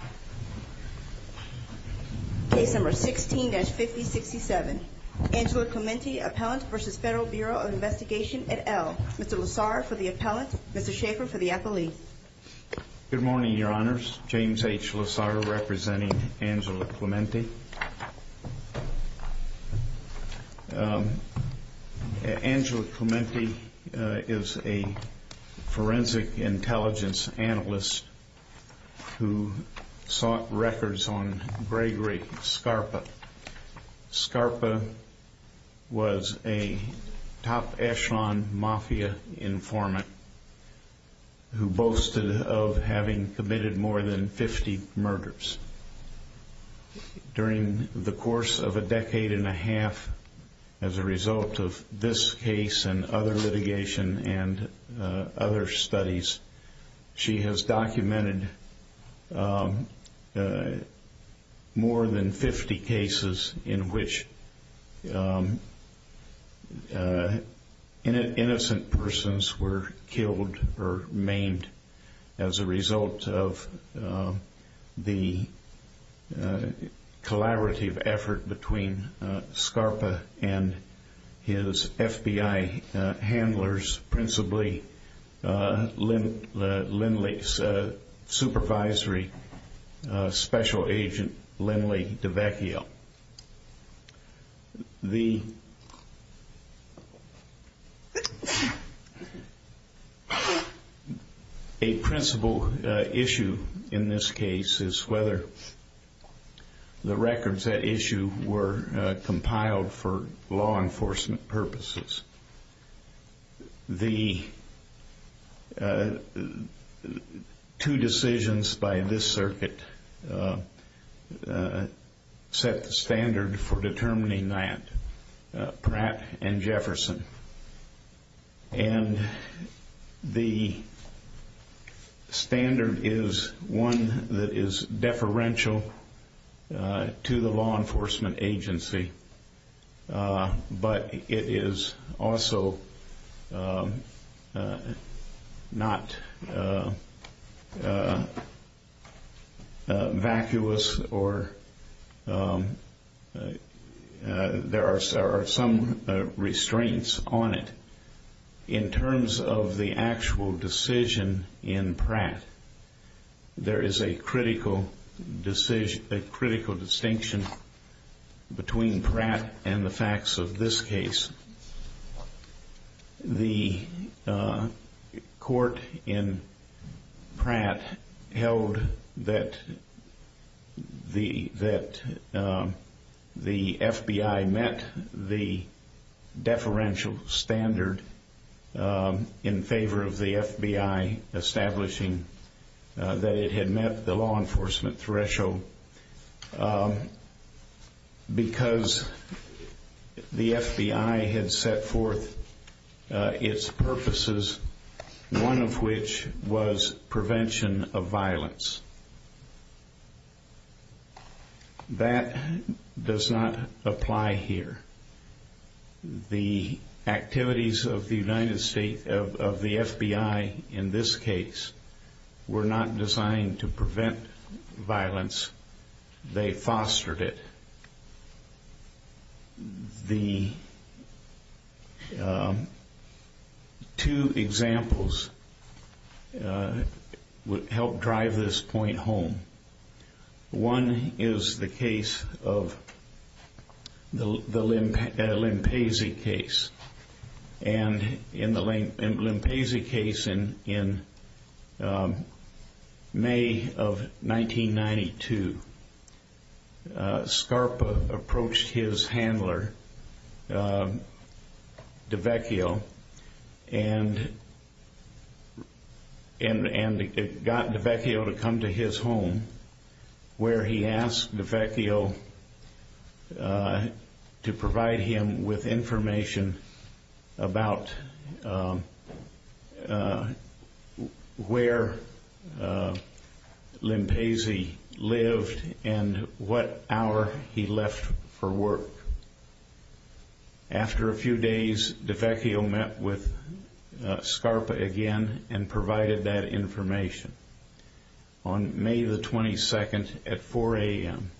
at L. Mr. Lozaro for the appellant. Mr. Schaefer for the appellee. Good morning, your honors. James H. Lozaro representing Angela Clemente. Angela Clemente is a forensic intelligence analyst who sought records on Gregory Scarpa. Scarpa was a top echelon mafia informant who boasted of having committed more than 50 murders during the course of a decade and a half. As a result of this case and other litigation and other studies, she has documented more than 50 cases in which innocent persons were killed or maimed as a result of the collaborative effort between Scarpa and his FBI handlers, principally Lindley's supervisory special agent Lindley DeVecchio. A principal issue in this case is whether the records at issue were compiled for law enforcement purposes. The two decisions by this circuit set the standard for determining that, Pratt and Jefferson. And the standard is one that is deferential to the law but it is also not vacuous or there are some restraints on it. In terms of the actual decision in Pratt, there is a critical distinction between Pratt and the facts of this case. The court in Pratt held that the FBI met the deferential standard in favor of the FBI establishing that it had met the law enforcement threshold because the FBI had set forth its purposes, one of which was prevention of violence. That does not apply here. The activities of the FBI in this case were not designed to prevent violence, they fostered it. The two examples help drive this point home. One is the case of the 1992. Scarpa approached his handler DeVecchio and got DeVecchio to come to his home where he asked DeVecchio to provide him with information about where Limpazy lived and what hour he left for work. After a few days, DeVecchio met with Scarpa again and provided that information. On May 22 at 4 a.m.,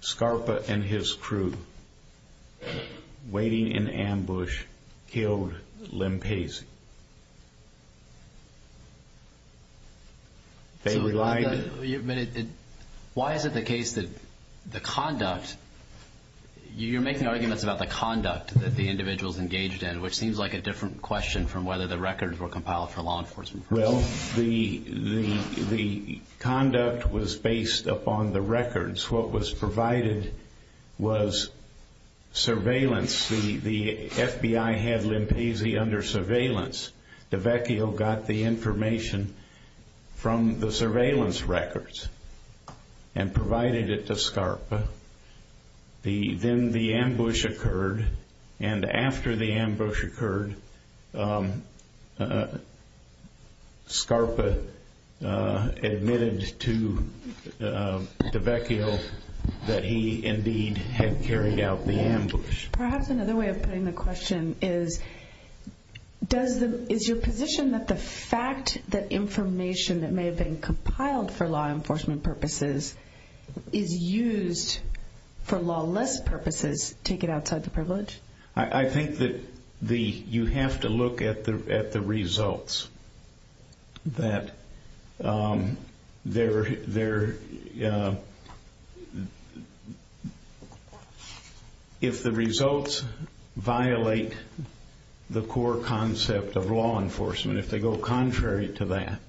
Scarpa and his crew, waiting in ambush, killed Limpazy. Why is it the case that the conduct, you're making arguments about the conduct that the individuals engaged in, which seems like a different question from whether the records were compiled for law enforcement purposes. Well, the conduct was based upon the records. What was provided was surveillance. The FBI had Limpazy under surveillance. DeVecchio got the information from the surveillance records and provided it to Scarpa. Then the ambush occurred and after the ambush occurred, Scarpa admitted to DeVecchio that he indeed had carried out the ambush. Perhaps another way of putting the question is, is your position that the fact that information that may have been compiled for law enforcement purposes is used for lawless purposes, take it outside the privilege? I think that you have to look at the If the results violate the core concept of law enforcement, if they go contrary to that,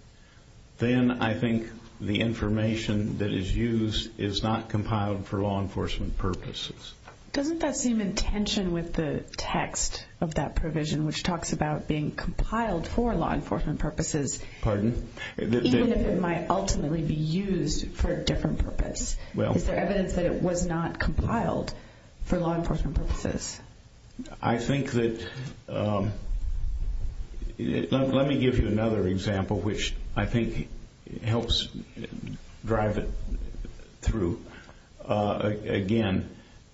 then I think the information that is used is not compiled for law enforcement purposes. Doesn't that seem in tension with the text of that provision, which talks about being compiled for law enforcement purposes, even if it might ultimately be used for a different purpose? Is there evidence that it was not compiled for law enforcement purposes? I think that, let me give you another example, which I think helps drive it through. Again,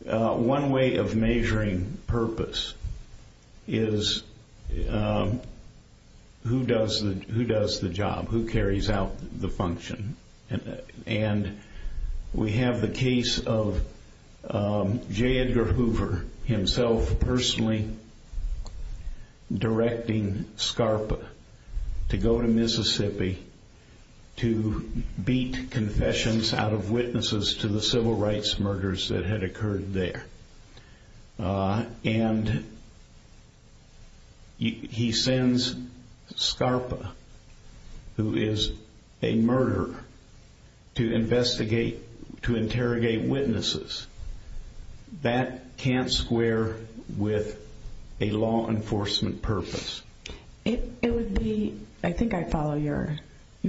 one way of measuring purpose is who does the job, who carries out the function. And we have the case of J. Edgar Hoover himself personally directing Scarpa to go to Mississippi to beat confessions out of witnesses to the civil rights murders that had occurred there. And he sends Scarpa, who is a That can't square with a law enforcement purpose. It would be, I think I follow your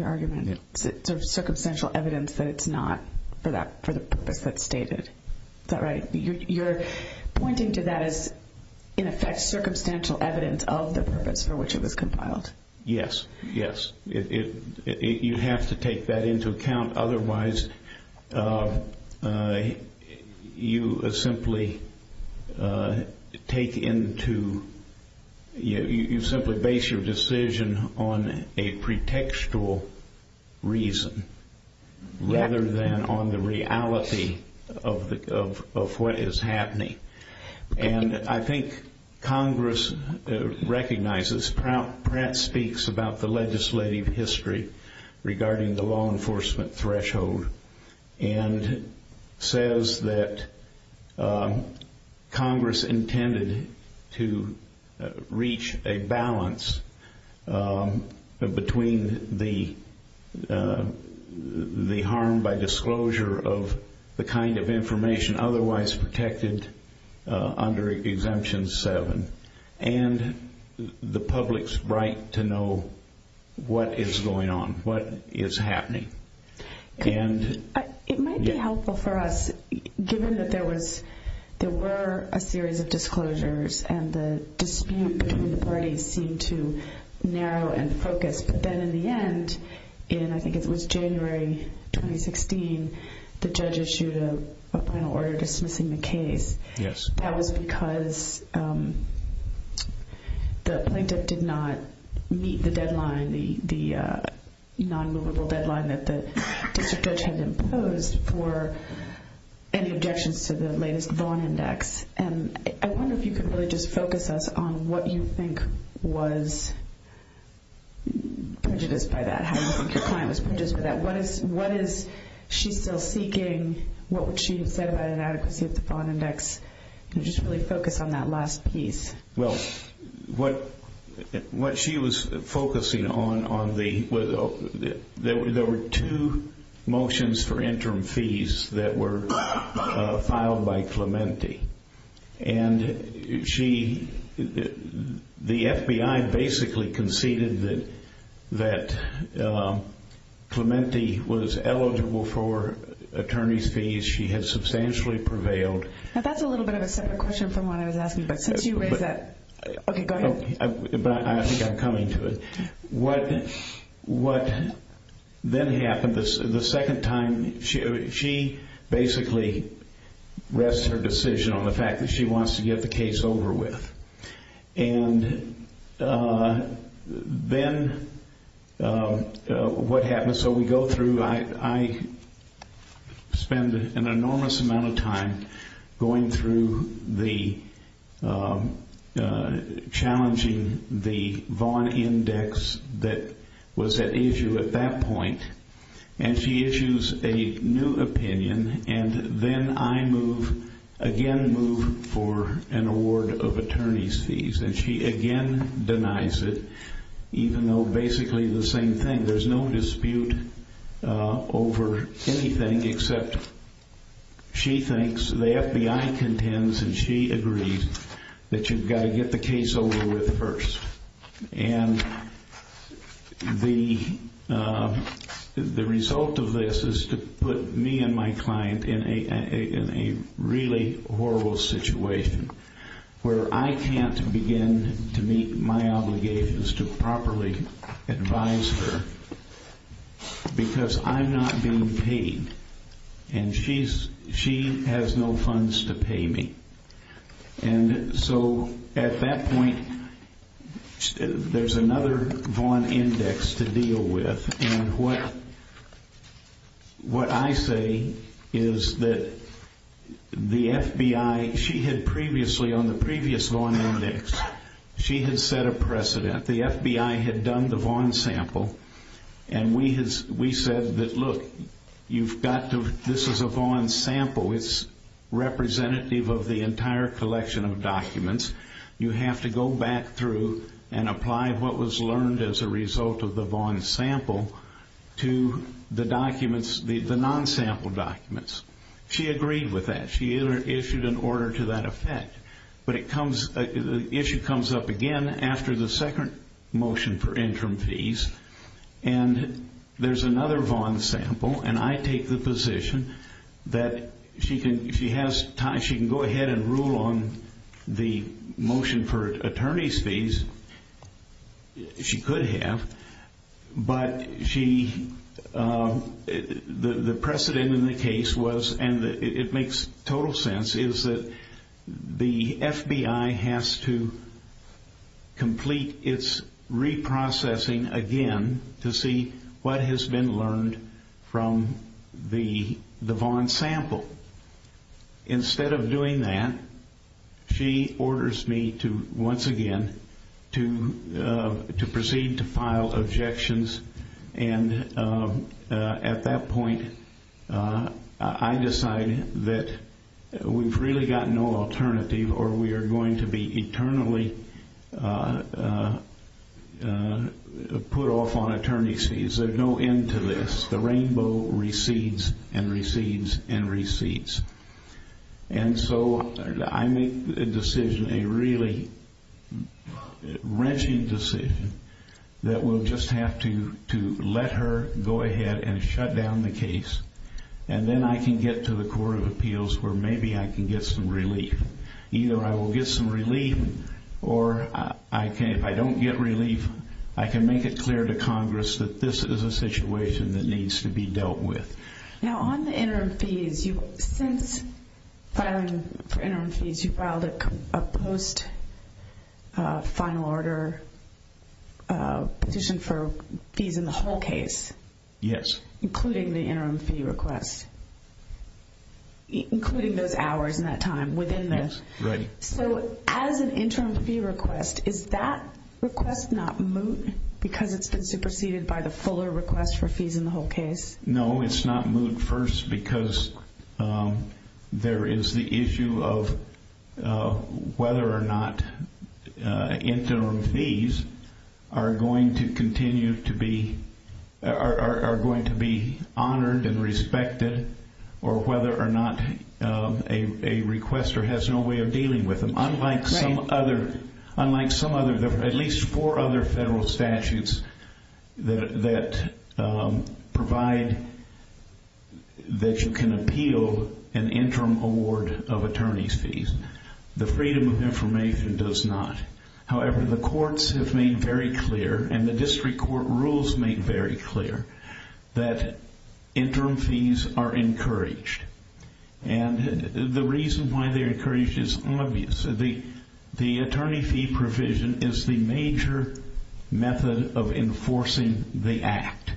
argument, circumstantial evidence that it's not for the purpose that's stated. Is that right? You're pointing to that as, in effect, circumstantial evidence of the purpose for which it was compiled. Yes, yes. You have to take that into account. Otherwise, you simply take into you simply base your decision on a pretextual reason rather than on the reality of what is happening. And I think Congress recognizes, Pratt speaks about the legislative history regarding the law enforcement threshold and says that Congress intended to reach a balance between the harm by disclosure of the kind of information otherwise protected under Exemption 7 and the public's right to know what is going on, what is happening. It might be helpful for us given that there were a series of disclosures and the dispute between the parties seemed to narrow and focus. But then in the end, in I think it was January 2016, the judge issued a final order dismissing the case. That was because the plaintiff did not meet the deadline, the non-movable deadline that the district judge had imposed for any objections to the latest Vaughn Index. And I wonder if you could really just focus us on what you think was prejudiced by that. How do you think your client was prejudiced by that? What is she still seeking? What would she have said about inadequacy of the Vaughn Index? Just really focus on that last piece. Well, what she was focusing on was that there were two motions for interim fees that were filed by Clemente. And the FBI basically conceded that Clemente was eligible for attorney's fees. She had not met the deadline. Now that's a little bit of a separate question from what I was asking, but since you raised that. Okay, go ahead. But I think I'm coming to it. What then happened, the second time, she basically rests her decision on the fact that she wants to get the case over with. And then what happens, so we go through, I spend an hour going through the, challenging the Vaughn Index that was at issue at that point. And she issues a new opinion, and then I move, again move for an award of attorney's fees. And she again denies it, even though basically the same thing. There's no dispute over anything except she thinks the FBI contends, and she agrees, that you've got to get the case over with first. And the result of this is to put me and my client in a really horrible situation where I can't begin to meet my obligations to properly advise her because I'm not being paid and she has no funds to pay me. And so at that point, there's another Vaughn Index to deal with. And what I say is that the FBI, she had previously on the previous Vaughn Index, she had set a precedent. The FBI had done the Vaughn sample. It's representative of the entire collection of documents. You have to go back through and apply what was learned as a result of the Vaughn sample to the documents, the non-sample documents. She agreed with that. She issued an order to that effect. But it comes, the issue comes up again after the second motion for interim fees. And there's another Vaughn sample, and I take the position that she can, if she has time, she can go ahead and rule on the motion for attorney's fees. She could have. But she, the precedent in the case was, and it makes total sense, is that the FBI has to complete its reprocessing again to see what has been learned from the Vaughn sample. Instead of doing that, she orders me to, once again, to proceed to file objections. And at that point, I decided that we've really got no alternative or we are going to be eternally put off on attorney's fees. There's no end to this. The rainbow recedes and recedes and recedes. And so I make a decision, a really wrenching decision, that we'll just have to let her go ahead and shut down the case. And then I can get to the Court of Appeals where maybe I can get some relief. Either I will get some relief or I can, if I don't get relief, I can make it so that there's a situation that needs to be dealt with. Now, on the interim fees, since filing for interim fees, you filed a post-final order petition for fees in the whole case? Yes. Including the interim fee request. Including those hours and that time within the... Yes, right. So, as an interim fee request, is that request not moot because it's been preceded by the fuller request for fees in the whole case? No, it's not moot first because there is the issue of whether or not interim fees are going to continue to be, are going to be honored and respected, or whether or not a requester has no way of dealing with them. Unlike some other, unlike some other, at least four other federal statutes that provide that you can appeal an interim award of attorneys fees, the Freedom of Information does not. However, the courts have made very clear, and the district court rules make very clear, that interim fees are encouraged. And the reason why they're encouraged is obvious. The attorney fee provision is the major method of enforcing the act.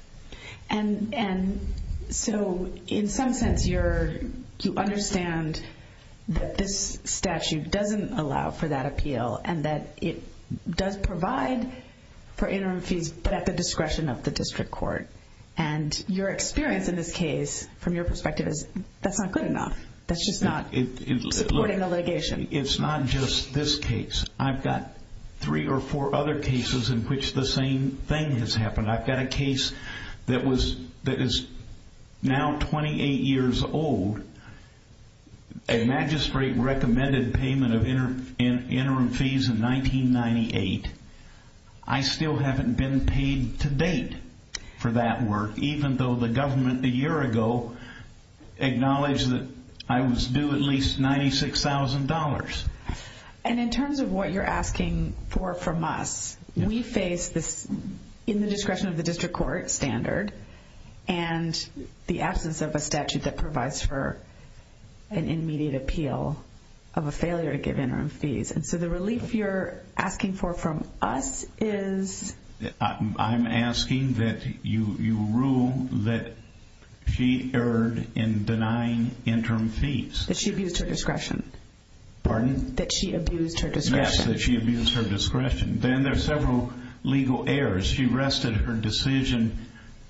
And so, in some sense, you're, you understand that this statute doesn't allow for that appeal, and that it does provide for interim fees, but at the discretion of the district court. And your experience in this case, from your perspective, is that's not good enough. That's just not supporting the litigation. It's not just this case. I've got three or four other cases in which the same thing has happened. I've got a case that was, that is now 28 years old. A magistrate recommended payment of interim fees in 1998. I still haven't been paid to date for that work, even though the government a year ago acknowledged that I was due at least $96,000. And in terms of what you're asking for from us, we face this, in the discretion of the district court standard, and the absence of a statute that provides for an immediate appeal of a failure to give interim fees. And so the relief you're asking for from us is... I'm asking that you rule that she erred in denying interim fees. That she abused her discretion. Pardon? That she abused her discretion. Yes, that she abused her discretion. Then there's several legal errors. She rested her decision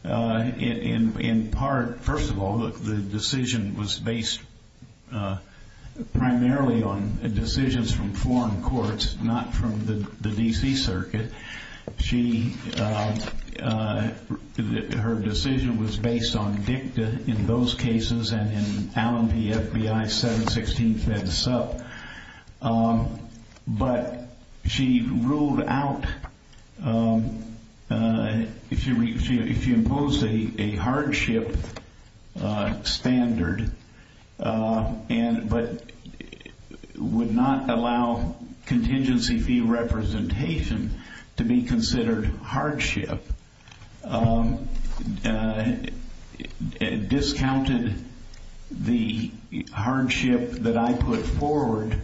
in part, first of all, the decision was based primarily on decisions from foreign courts, not from the D.C. Circuit. Her decision was based on dicta in those cases, and in 2016 FEDSUP. But she ruled out, if you impose a hardship standard, but would not allow contingency fee representation to be considered hardship, discounted the hardship that I put forward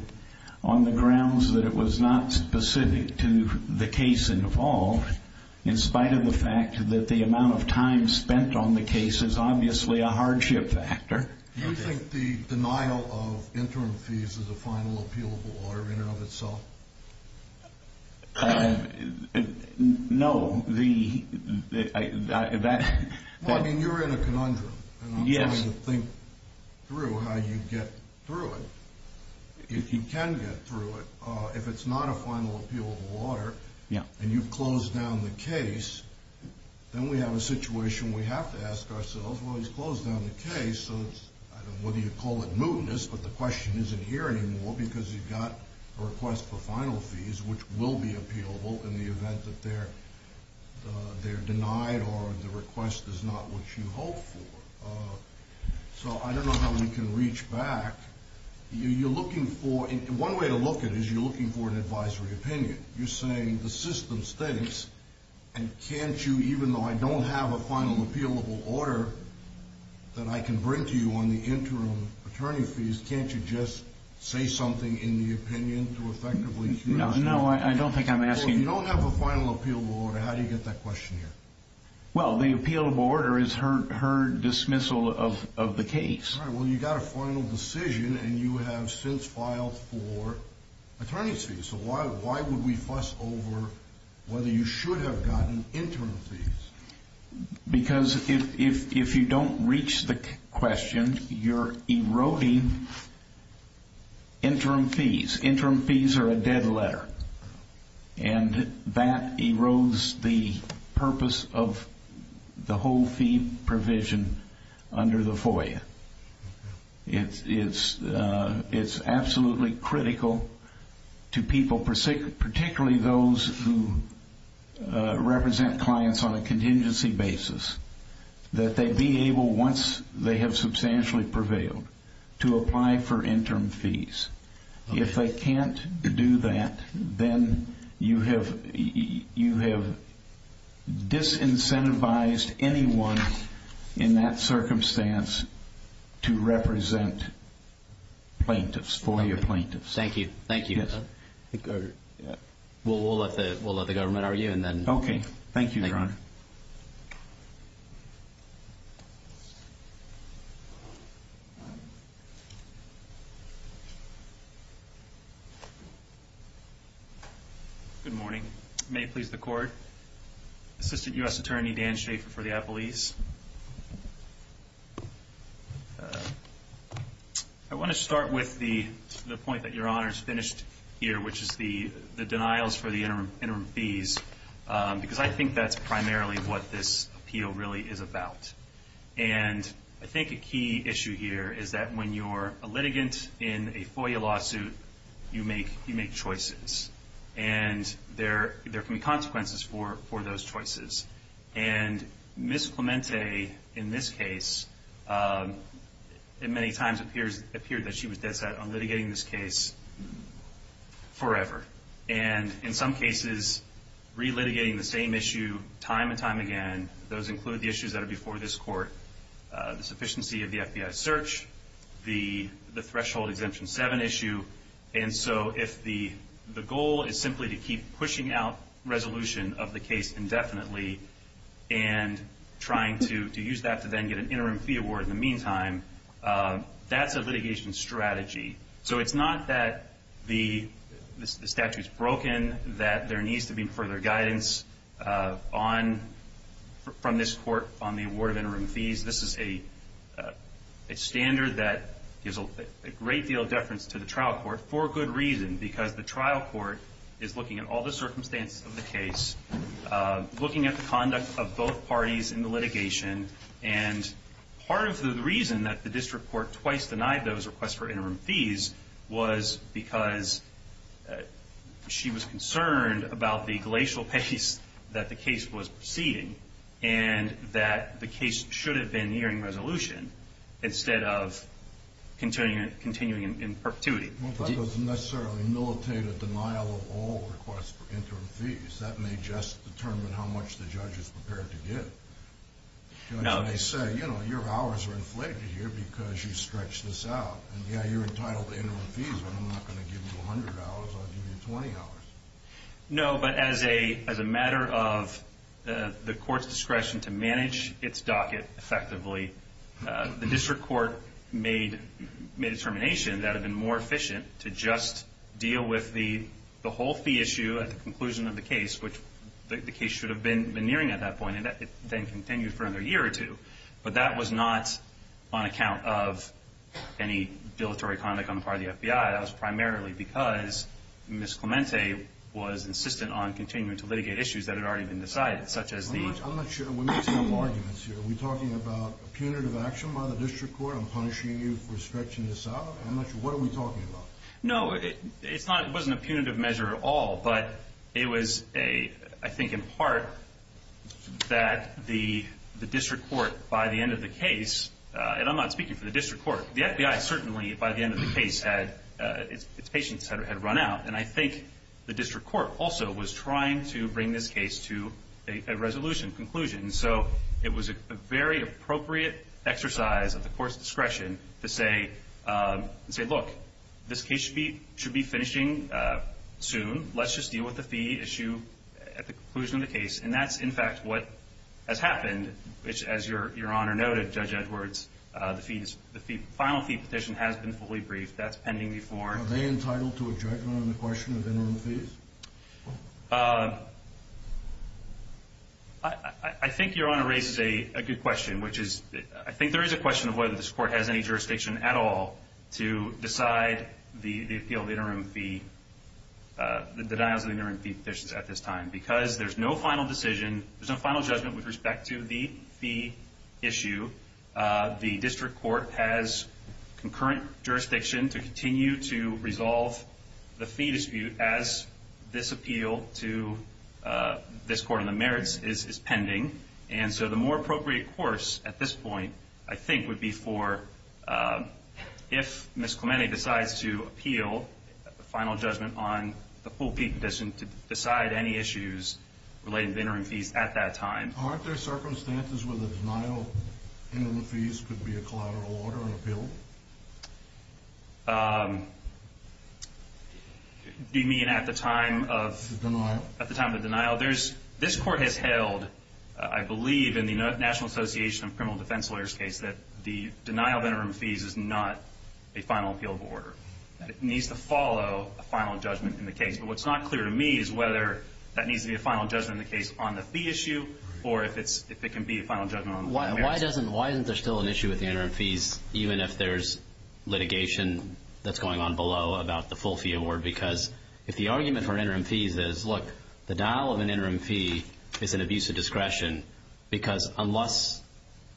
on the grounds that it was not specific to the case involved, in spite of the fact that the amount of time spent on the case is obviously a hardship factor. Do you think the denial of interim fees is a final appealable error in and of itself? No, the... Well, I mean, you're in a conundrum, and I'm trying to think through how you get through it. If you can get through it, if it's not a final appealable error, and you've closed down the case, then we have a situation where we have to ask ourselves, well, he's closed down the case, so it's, I don't know whether you call it mootness, but the question isn't here anymore, because you've got a request for final fees, which will be appealable in the event that they're denied, or the request is not what you hoped for. So I don't know how we can reach back. You're looking for, one way to look at it is you're looking for an advisory opinion. You're saying the system stinks, and can't you, even though I don't have a final appealable order that I can bring to you on the interim attorney fees, can't you just say something in the opinion to effectively... No, I don't think I'm asking... So if you don't have a final appealable order, how do you get that question here? Well, the appealable order is her dismissal of the case. Alright, well you've got a final decision, and you have since filed for attorney's fees, so why would we fuss over whether you should have gotten interim fees? Because if you don't reach the question, you're eroding interim fees. Interim fees are a dead letter, and that erodes the purpose of the whole fee provision under the FOIA. It's absolutely critical to people, particularly those who represent clients on a contingency basis, that they be able, once they have substantially prevailed, to apply for interim fees. If they can't do that, then you have disincentivized anyone in that circumstance to represent plaintiffs, FOIA plaintiffs. Thank you, thank you. We'll let the government argue, and then... Okay, thank you, Your Honor. Good morning. May it please the Court. Assistant U.S. Attorney Dan Schafer for the appellees. I want to start with the point that Your Honor's finished here, which is the denials for the interim fees, because I think that's primarily what this appeal really is about. And I think a key issue here is that when you're a litigant in a FOIA lawsuit, you make choices, and there can be consequences for those choices. And Ms. Clemente, in this case, many times appeared that she was dead set on litigating this case forever. And in some cases, re-litigating the same issue time and time again, those include the issues that are before this Court, the sufficiency of the FBI search, the threshold exemption 7 issue. And so if the goal is simply to keep pushing out resolution of the case indefinitely and trying to use that to then get an interim fee award in the meantime, that's a litigation strategy. So it's not that the statute's broken, that there needs to be further guidance from this Court on the award of interim fees. This is a standard that gives a great deal of deference to the trial court for good reason, because the trial court is looking at all the circumstances of the case, looking at the conduct of both parties in the litigation. And part of the reason that the district court twice denied those requests for interim fees was because she was concerned about the glacial pace that the case was proceeding and that the case should have been nearing resolution instead of continuing in perpetuity. Well, that doesn't necessarily militate a denial of all requests for interim fees. That may just determine how much the judge is prepared to give. Judge may say, you know, your hours are inflated here because you stretched this out, and yeah, you're entitled to interim fees, but I'm not going to give you $100, I'll give you $20. No, but as a matter of the Court's discretion to manage its docket effectively, the district court made a determination that it had been more efficient to just deal with the whole fee issue at the conclusion of the case, which the case should have been nearing at that point, and then continued for another year or two. But that was not on any dilatory conduct on the part of the FBI, that was primarily because Ms. Clemente was insistent on continuing to litigate issues that had already been decided, such as the... I'm not sure, we're mixing up arguments here. Are we talking about punitive action by the district court on punishing you for stretching this out? I'm not sure, what are we talking about? No, it's not, it wasn't a punitive measure at all, but it was a, I think in part, that the district court, by the end of the case, and I'm not speaking for the district court, but certainly by the end of the case, its patience had run out, and I think the district court also was trying to bring this case to a resolution, conclusion, so it was a very appropriate exercise of the court's discretion to say, look, this case should be finishing soon, let's just deal with the fee issue at the conclusion of the case, and that's in fact what has happened, which as your Honor noted, Judge Edwards, the final fee petition has been fully briefed, that's pending before. Are they entitled to a judgment on the question of interim fees? I think your Honor raises a good question, which is, I think there is a question of whether this court has any jurisdiction at all to decide the appeal of the interim fee, the denials of the interim fee petition at this time, because there's no final decision, there's no final judgment with respect to the fee issue, the district court has concurrent jurisdiction to continue to resolve the fee dispute as this appeal to this court on the merits is pending, and so the more appropriate course at this point, I think would be for, if Ms. Clemente decides to appeal the final judgment on the full fee petition to decide any issues relating to interim fees at that time. Aren't there circumstances where the denial of interim fees could be a collateral order in appeal? Do you mean at the time of the denial? At the time of the denial, there's, this court has held, I believe in the National Association of Criminal Defense Lawyers case, that the denial of interim fees is not a final appeal of order, that it needs to follow a final judgment in the case, but what's not clear to me is whether that needs to be a final judgment in the case on the fee issue, or if it can be a final judgment on the merits. Why doesn't, why isn't there still an issue with the interim fees, even if there's litigation that's going on below about the full fee award, because if the argument for interim fees is, look, the denial of an interim fee is an abuse of discretion, because unless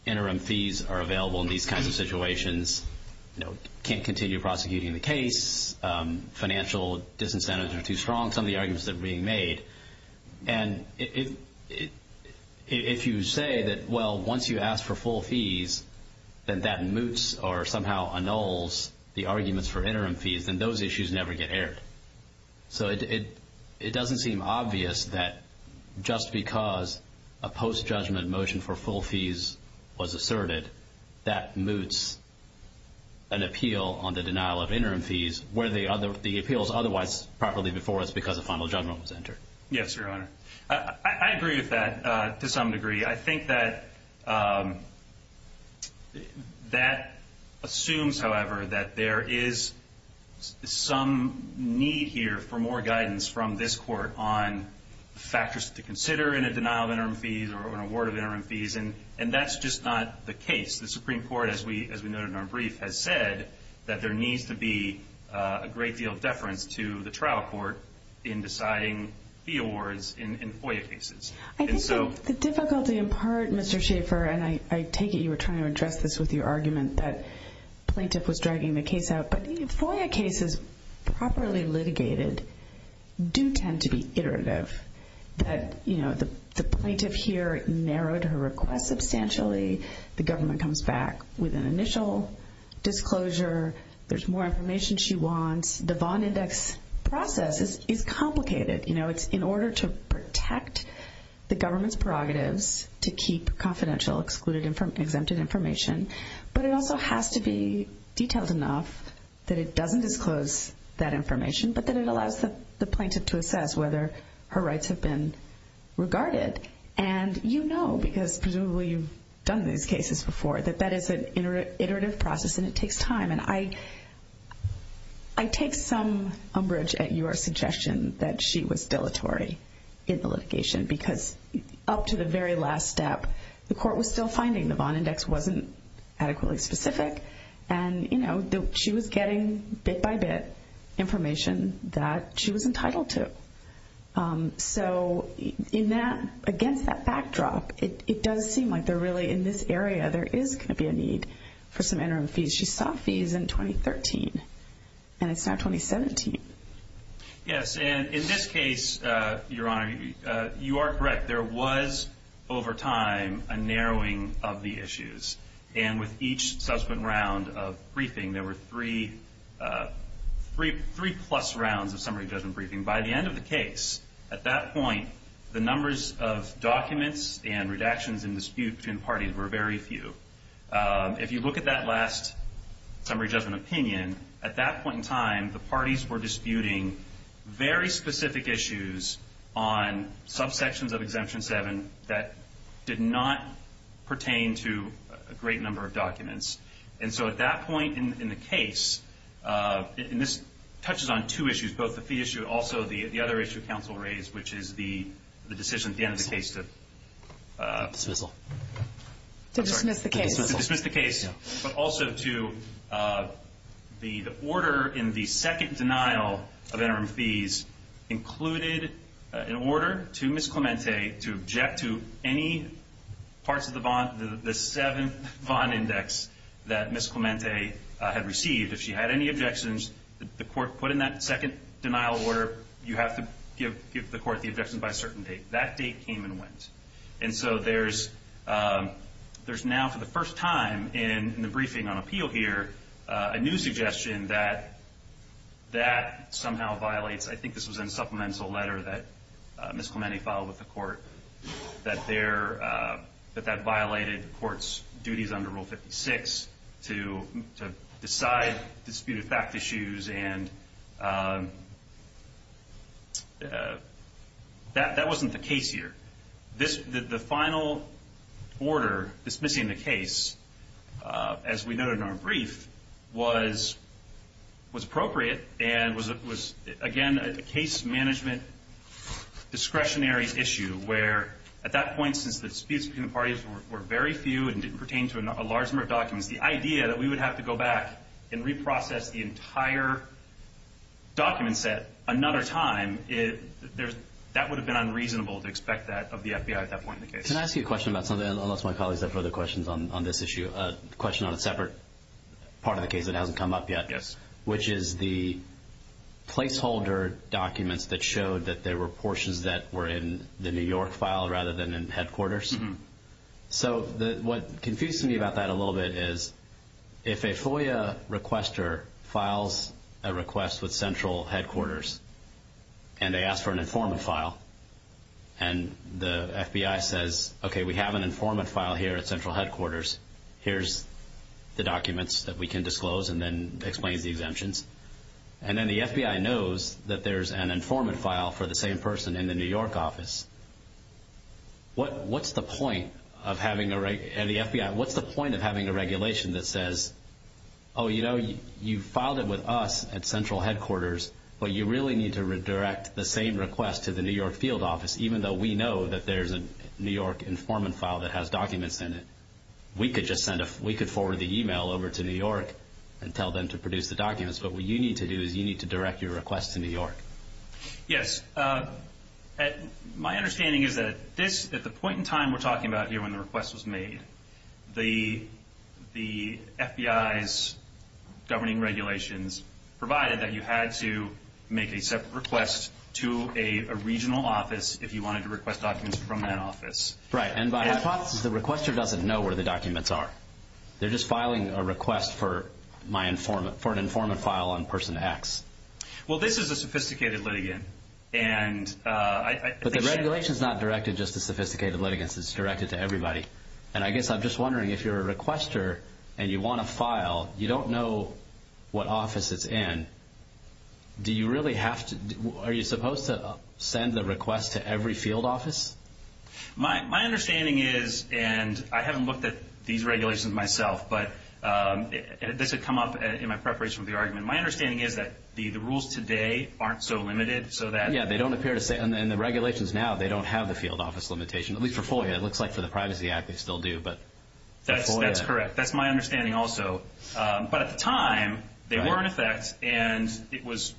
interim fees are available in these kinds of situations, you know, can't continue prosecuting the case, financial disincentives are too strong, some of the If you say that, well, once you ask for full fees, then that moots or somehow annuls the arguments for interim fees, then those issues never get aired. So it doesn't seem obvious that just because a post-judgment motion for full fees was asserted, that moots an appeal on the denial of interim fees, where the appeals otherwise properly before us because a final judgment was entered. Yes, Your Honor. I agree with that to some degree. I think that assumes, however, that there is some need here for more guidance from this Court on factors to consider in a denial of interim fees or an award of interim fees, and that's just not the case. The Supreme Court, as we noted in our brief, has said that there needs to be a great deal of deference to the trial court in deciding fee awards in FOIA cases. I think the difficulty in part, Mr. Schaffer, and I take it you were trying to address this with your argument that plaintiff was dragging the case out, but FOIA cases properly litigated do tend to be iterative. That, you know, the plaintiff here narrowed her request substantially. The government comes back with an initial disclosure. There's more information she wants. The Vaughn Index process is complicated. You know, it's in order to protect the government's prerogatives to keep confidential, excluded, exempted information, but it also has to be detailed enough that it doesn't disclose that information, but that it allows the plaintiff to assess whether her rights have been regarded, and you know, because presumably you've done these cases before, that that is an iterative process and it takes time, and I take some umbrage at your suggestion that she was dilatory in the litigation because up to the very last step, the court was still finding the Vaughn Index wasn't adequately specific, and you know, she was getting bit-by-bit information that she was entitled to. So in that, against that backdrop, it does seem like they're really, in this area, there is going to be a need for some interim fees. She sought fees in 2013, and it's now 2017. Yes, and in this case, Your Honor, you are correct. There was, over time, a narrowing of the issues, and with each subsequent round of briefing, there were three plus rounds of summary judgment briefing. By the end of the case, at that point, the numbers of documents and redactions in dispute between parties were very few. If you look at that last summary judgment opinion, at that point in time, the parties were disputing very sections of Exemption 7 that did not pertain to a great number of documents. And so at that point in the case, and this touches on two issues, both the fee issue, also the other issue counsel raised, which is the decision at the end of the case to dismiss the case, but also to the order in the second denial of interim fees included an order to allow Ms. Clemente to object to any parts of the bond, the seventh bond index that Ms. Clemente had received. If she had any objections, the court put in that second denial order, you have to give the court the objection by a certain date. That date came and went. And so there's now, for the first time in the briefing on appeal here, a new suggestion that that somehow violates, I think this was in a supplemental letter that Ms. Clemente filed with the court, that that violated the court's duties under Rule 56 to decide disputed fact issues, and that wasn't the case here. The final order dismissing the case, as we noted in our brief, was appropriate and was again a case management discretionary issue where at that point since the disputes between the parties were very few and didn't pertain to a large number of documents, the idea that we would have to go back and reprocess the entire document set another time, that would have been unreasonable to expect that of the FBI at that point in the case. Can I ask you a question about something, unless my colleagues have further questions on this issue, a question on a separate part of the case that hasn't been brought up, the placeholder documents that showed that there were portions that were in the New York file rather than in headquarters. So what confused me about that a little bit is if a FOIA requester files a request with Central Headquarters and they ask for an informant file and the FBI says, okay, we have an informant file here at Central Headquarters, here's the documents that we can disclose and then the FBI knows that there's an informant file for the same person in the New York office, what's the point of having a regulation that says, oh, you know, you filed it with us at Central Headquarters but you really need to redirect the same request to the New York field office, even though we know that there's a New York informant file that has documents in it. We could forward the email over to New York and tell them to produce the request because you need to direct your request to New York. Yes. My understanding is that this, at the point in time we're talking about here when the request was made, the FBI's governing regulations provided that you had to make a separate request to a regional office if you wanted to request documents from that office. Right, and by hypothesis the requester doesn't know where the documents are. They're just filing a request for an informant file on person X. Well, this is a sophisticated litigant. But the regulation is not directed just to sophisticated litigants. It's directed to everybody, and I guess I'm just wondering if you're a requester and you want to file, you don't know what office it's in, do you really have to, are you supposed to send the request to every field office? My understanding is, and I haven't looked at these regulations myself, but this had come up in my preparation for the argument, my understanding is that the rules today aren't so limited so that Yeah, they don't appear to say, and the regulations now, they don't have the field office limitation, at least for FOIA, it looks like for the Privacy Act they still do, but That's correct. That's my understanding also. But at the time, they were in effect, and it was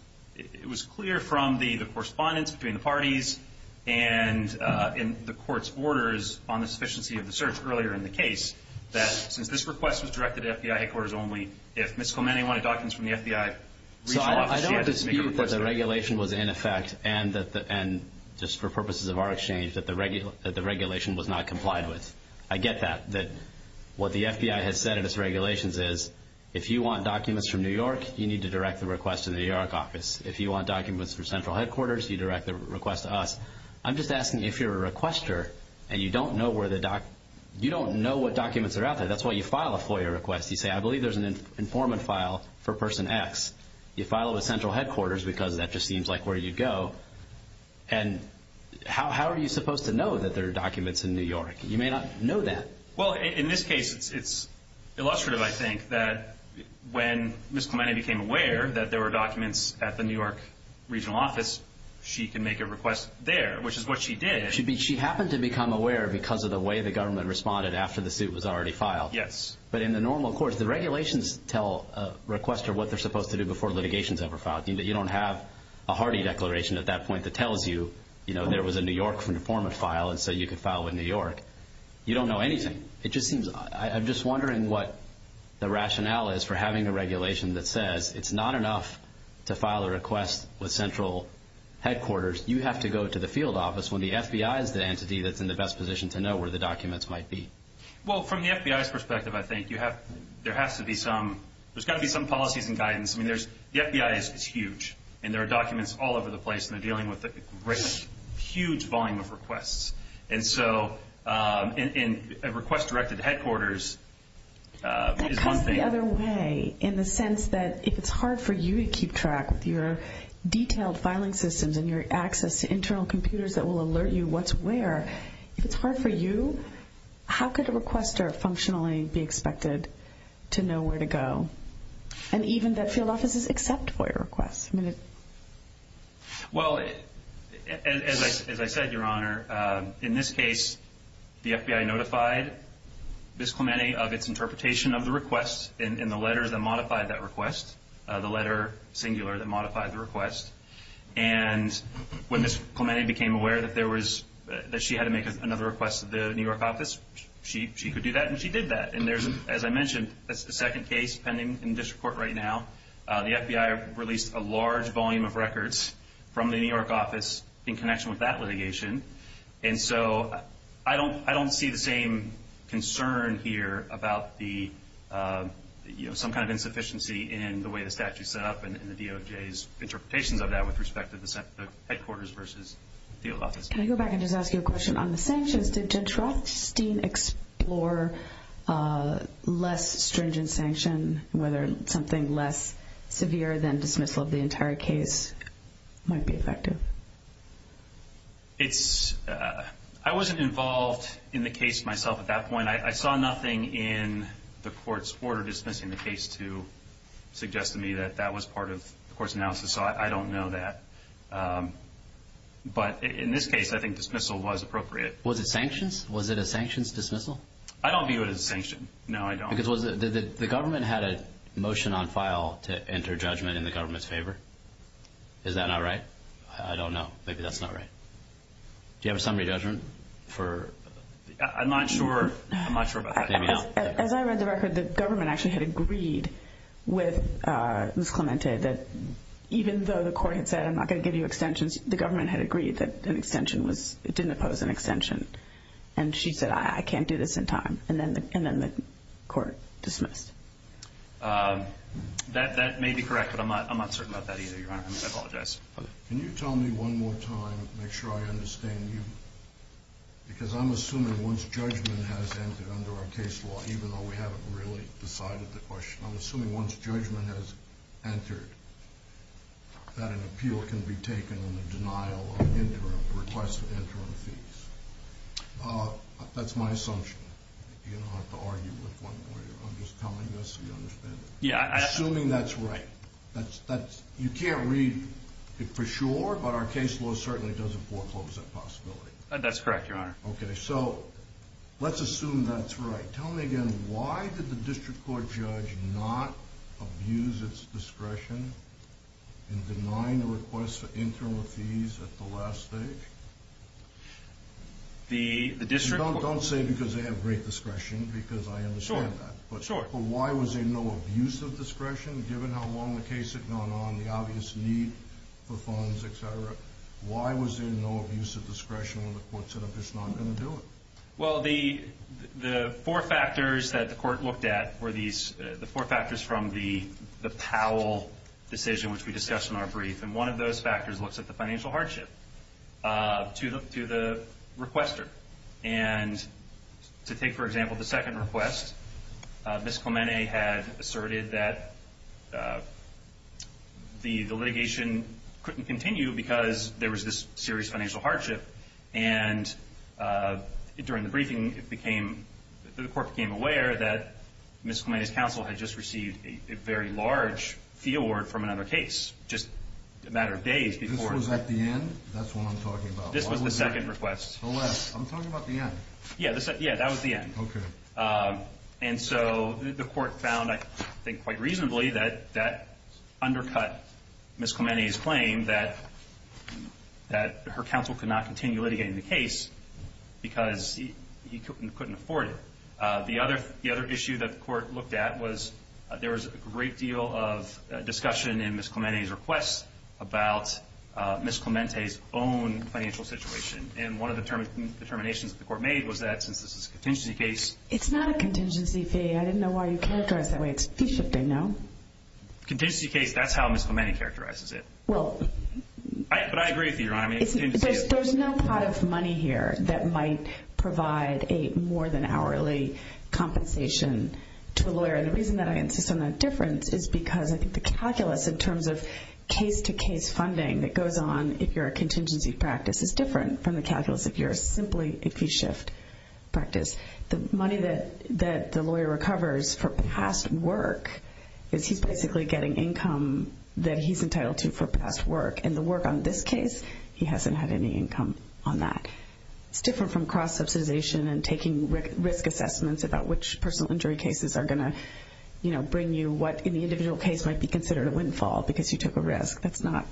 clear from the correspondence between the parties and the court's orders on the sufficiency of the search earlier in the case, that since this request was directed to FBI headquarters only, if Ms. Clemente wanted documents from the FBI regional office, she had to make a request to them. So I don't dispute that the regulation was in effect, and just for purposes of our exchange, that the regulation was not complied with. I get that, that what the FBI has said in its regulations is, if you want documents from New York, you need to direct the request to the New York office. If you want documents for central headquarters, you direct the request to us. I'm just asking if you're a requester, and you don't know what documents are out there, that's why you file a FOIA request. You say, I believe there's an informant file for person X. You file it with central headquarters because that just seems like where you'd go, and how are you supposed to know that there are documents in New York? You may not know that. Well, in this case, it's illustrative, I think, that when Ms. Clemente became aware that there were documents at the New York regional office, she can make a request there, which is what she did. She happened to become aware because of the way the government responded after the suit was already filed. Yes. But in the normal course, the regulations tell a requester what they're supposed to do before litigation is ever filed. You don't have a hardy declaration at that point that tells you, you know, there was a New York informant file, and so you could file with New York. You don't know anything. It just seems, I'm just wondering what the rationale is for having a regulation that says it's not enough to file a request with central headquarters. You have to go to the field office when the FBI is the entity that's in the best position to know where the documents might be. Well, from the FBI's perspective, I think, you have, there has to be some, there's got to be some policies and guidance. I mean, there's, the FBI is huge, and there are documents all over the place, and they're dealing with a great, huge volume of requests. And so, and a request directed to headquarters is one thing. That cuts the other way in the sense that if it's hard for you to keep track with your detailed filing systems and your access to internal computers that will alert you what's where, if it's hard for you, how could a requester functionally be expected to know where to go? And even that field offices accept FOIA requests. Well, as I said, Your Honor, in this case, the FBI notified Ms. Clemente of its interpretation of the request in the letters that modified that request, the letter singular that modified the request, and when Ms. Clemente became aware that there was, that she had to make another request to the New York office, she could do that, and she did that. And there's, as I mentioned, a second case pending in district court right now. The FBI released a large volume of records from the New York office in connection with that litigation. And so, I don't see the same concern here about the, you know, some kind of insufficiency in the way the statute is set up and the DOJ's interpretations of that with respect to the headquarters versus the field office. Can I go back and just ask you a question on the sanctions? Did Jindrothstein explore less stringent sanction, whether something less severe than dismissal of the entire case might be effective? It's, I wasn't involved in the case myself at that point. I saw nothing in the court's order dismissing the case to suggest to me that that was part of the court's analysis, so I don't know that. But in this case, I think dismissal was appropriate. Was it sanctions? Was it a sanctions dismissal? I don't view it as a sanction. No, I don't. Because the government had a motion on file to enter judgment in the government's favor. Is that not right? I don't know. Maybe that's not right. Do you have a summary judgment? I'm not sure. I'm not sure about that. As I read the record, the government actually had agreed with Ms. Clemente that even though the court had said, I'm not going to give you extensions, the government had agreed that an extension was, it didn't oppose an extension. And she said, I can't do this in time. And then the court dismissed. That may be correct, but I'm not certain about that either, Your Honor. I apologize. Can you tell me one more time, make sure I understand you? Because I'm assuming once judgment has entered under our case law, even though we haven't really decided the question, I'm assuming once judgment has entered, that an appeal can be taken in the denial or request of interim fees. That's my assumption. You don't have to argue with one lawyer. I'm just telling you this so you understand it. Assuming that's right. You can't read it for sure, but our case law certainly doesn't foreclose that possibility. Okay, so let's assume that's right. Tell me again, why did the district court judge not abuse its discretion in denying the request for interim fees at the last stage? Don't say because they have great discretion, because I understand that. But why was there no abuse of discretion, given how long the case had gone on, the obvious need for funds, et cetera? Why was there no abuse of discretion when the court said, I'm just not going to do it? Well, the four factors that the court looked at were the four factors from the Powell decision, which we discussed in our brief. And one of those factors looks at the financial hardship to the requester. And to take, for example, the second request, Ms. Clemente had asserted that the litigation couldn't continue because there was this serious financial hardship. And during the briefing, the court became aware that Ms. Clemente's counsel had just received a very large fee award from another case, just a matter of days before. This was at the end? That's what I'm talking about. This was the second request. The last. I'm talking about the end. Yeah, that was the end. OK. And so the court found, I think, quite reasonably that that undercut Ms. Clemente's claim that her counsel could not continue litigating the case because he couldn't afford it. The other issue that the court looked at was there was a great deal of discussion in Ms. Clemente's request about Ms. Clemente's own financial situation. And one of the determinations that the court made was that since this is a contingency case... It's not a contingency fee. I didn't know why you characterized that way. It's fee shifting, no? Contingency case, that's how Ms. Clemente characterizes it. Well... But I agree with you, Your Honor. I mean, it's interesting to see... There's no pot of money here that might provide a more-than-hourly compensation to a lawyer. And the reason that I insist on that difference is because I think the calculus in terms of case-to-case funding that goes on if you're a contingency practice is different from the calculus if you're a simply fee shift practice. The money that the lawyer recovers for past work is he's basically getting income that he's entitled to for past work. And the work on this case, he hasn't had any income on that. It's different from cross-subsidization and taking risk assessments about which personal injury cases are going to bring you what in the individual case might be considered a windfall because you took a risk. That's not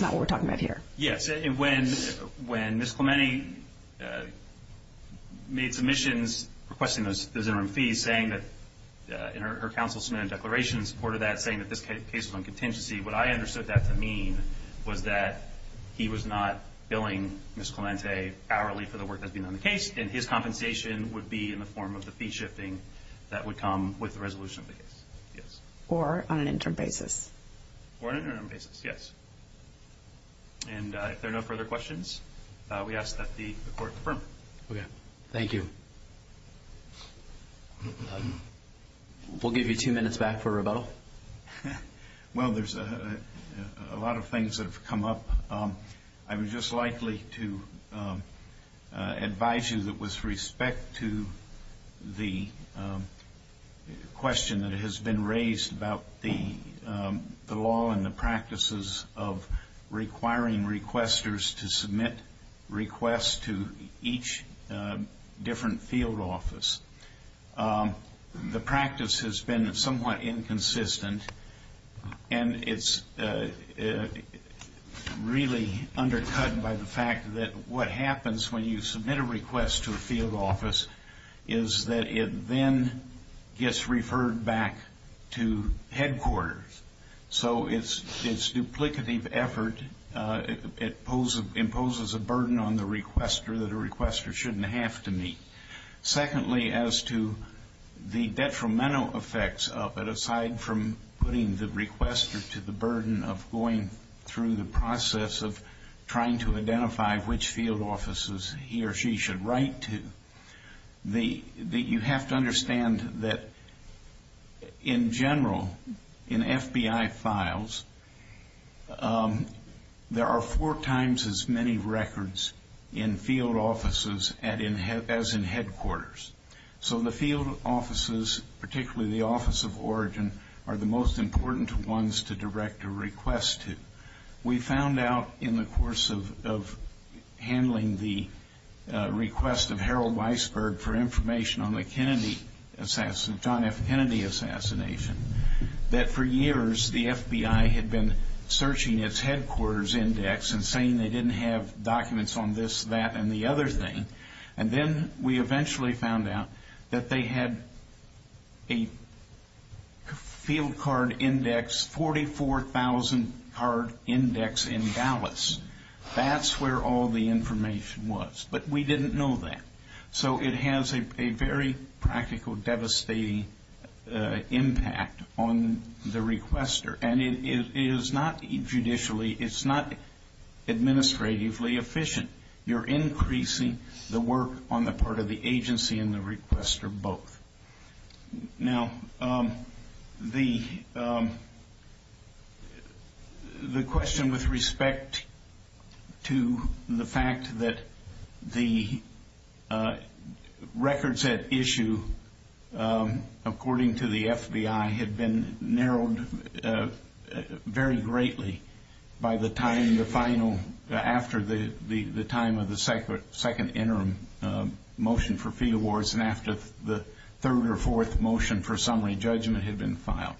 what we're talking about here. Yes. And when Ms. Clemente made submissions requesting those interim fees, saying that her counsel submitted a declaration in support of that saying that this case was on contingency, what I understood that to mean was that he was not paying Ms. Clemente hourly for the work that's been on the case and his compensation would be in the form of the fee shifting that would come with the resolution of the case. Yes. Or on an interim basis. Or on an interim basis. Yes. And if there are no further questions, we ask that the Court confirm. Okay. Thank you. We'll give you two minutes back for rebuttal. Well, there's a lot of things that have come up. I was just likely to advise you that with respect to the question that has been raised about the law and the practices of requiring requesters to submit requests to each different field office, the practice has been somewhat inconsistent and it's really undercut by the fact that what happens when you submit a request to a field office is that it then gets referred back to headquarters. So it's duplicative effort. It imposes a burden on the requester that a requester shouldn't have to meet. Secondly, as to the detrimental effects of it, aside from putting the requester to the burden of going through the process of trying to identify which field offices he or she should write to, you have to understand that in general, in FBI files, there are four times as many records in field offices as in headquarters. So the field offices, particularly the Office of Origin, are the most important ones to direct a request to. We found out in the course of handling the request of Harold Weisberg for information on the John F. Kennedy assassination that for years the FBI had been searching its headquarters index and saying they didn't have documents on this, that, and the other thing. And then we eventually found out that they had a field card index, 44,000 card index in Dallas. That's where all the information was. But we didn't know that. So it has a very practical, devastating impact on the requester. And it is not, judicially, it's not administratively efficient. You're increasing the work on the part of the agency and the requester both. Now, the question with respect to the fact that the records at issue, according to the FBI, had been narrowed very greatly by the time the final, after the time of the second interim motion for fee awards and after the third or fourth motion for summary judgment had been filed.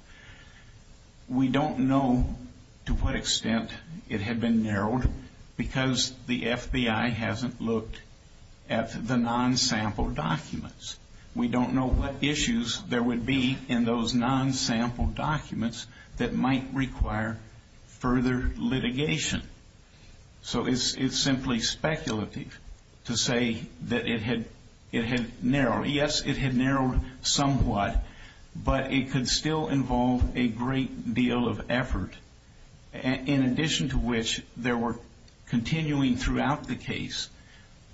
We don't know to what extent it had been narrowed because the FBI hasn't looked at the non-sample documents. We don't know what issues there would be in those non-sample documents that might require further litigation. So it's simply speculative to say that it had narrowed. Yes, it had narrowed somewhat, but it could still involve a great deal of effort, in addition to which there were continuing throughout the case,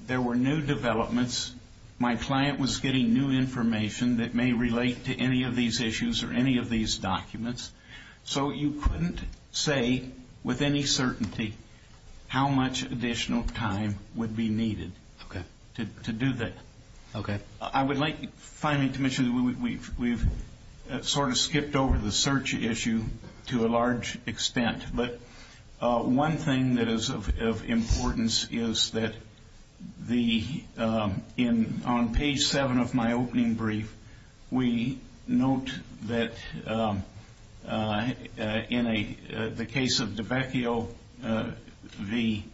there were new developments. My client was getting new information that may relate to any of these issues or any of these documents, so you couldn't say with any certainty how much additional time would be needed to do that. I would like finally to mention that we've sort of skipped over the search issue to a large extent, but one thing that is of importance is that on page 7 of my opening brief, we note that in the case of DiBecchio v.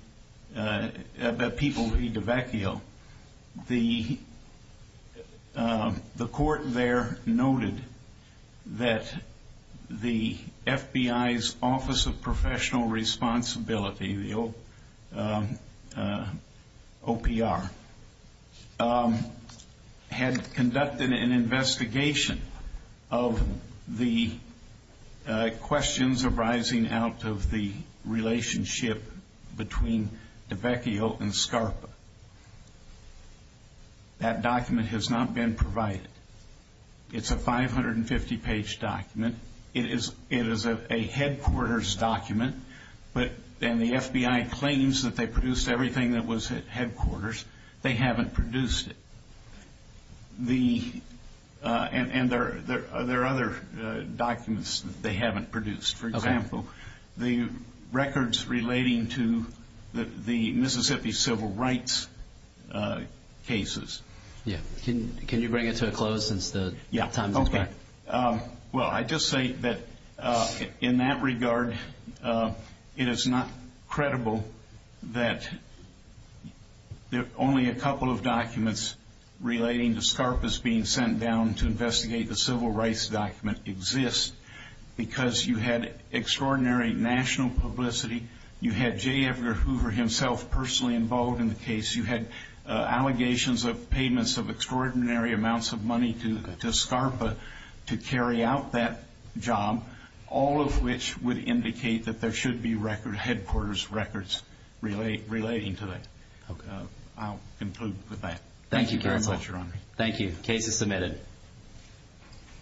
DiBecchio, the court there noted that the FBI's Office of Professional Responsibility, the OPR, had conducted an investigation of the questions arising out of the relationship between DiBecchio and Scarpa. That document has not been provided. It's a 550-page document. It is a headquarters document, and the FBI claims that they produced everything that was at headquarters. They haven't produced it, and there are other documents that they haven't produced. For example, the records relating to the Mississippi civil rights cases. Can you bring it to a close since the time is back? Well, I'd just say that in that regard, it is not credible that only a couple of documents relating to Scarpa's being sent down to investigate the civil rights document exist because you had extraordinary national publicity. You had J. Edgar Hoover himself personally involved in the case. You had allegations of payments of to carry out that job, all of which would indicate that there should be headquarters records relating to that. I'll conclude with that. Thank you very much, Your Honor. Thank you. Case is submitted.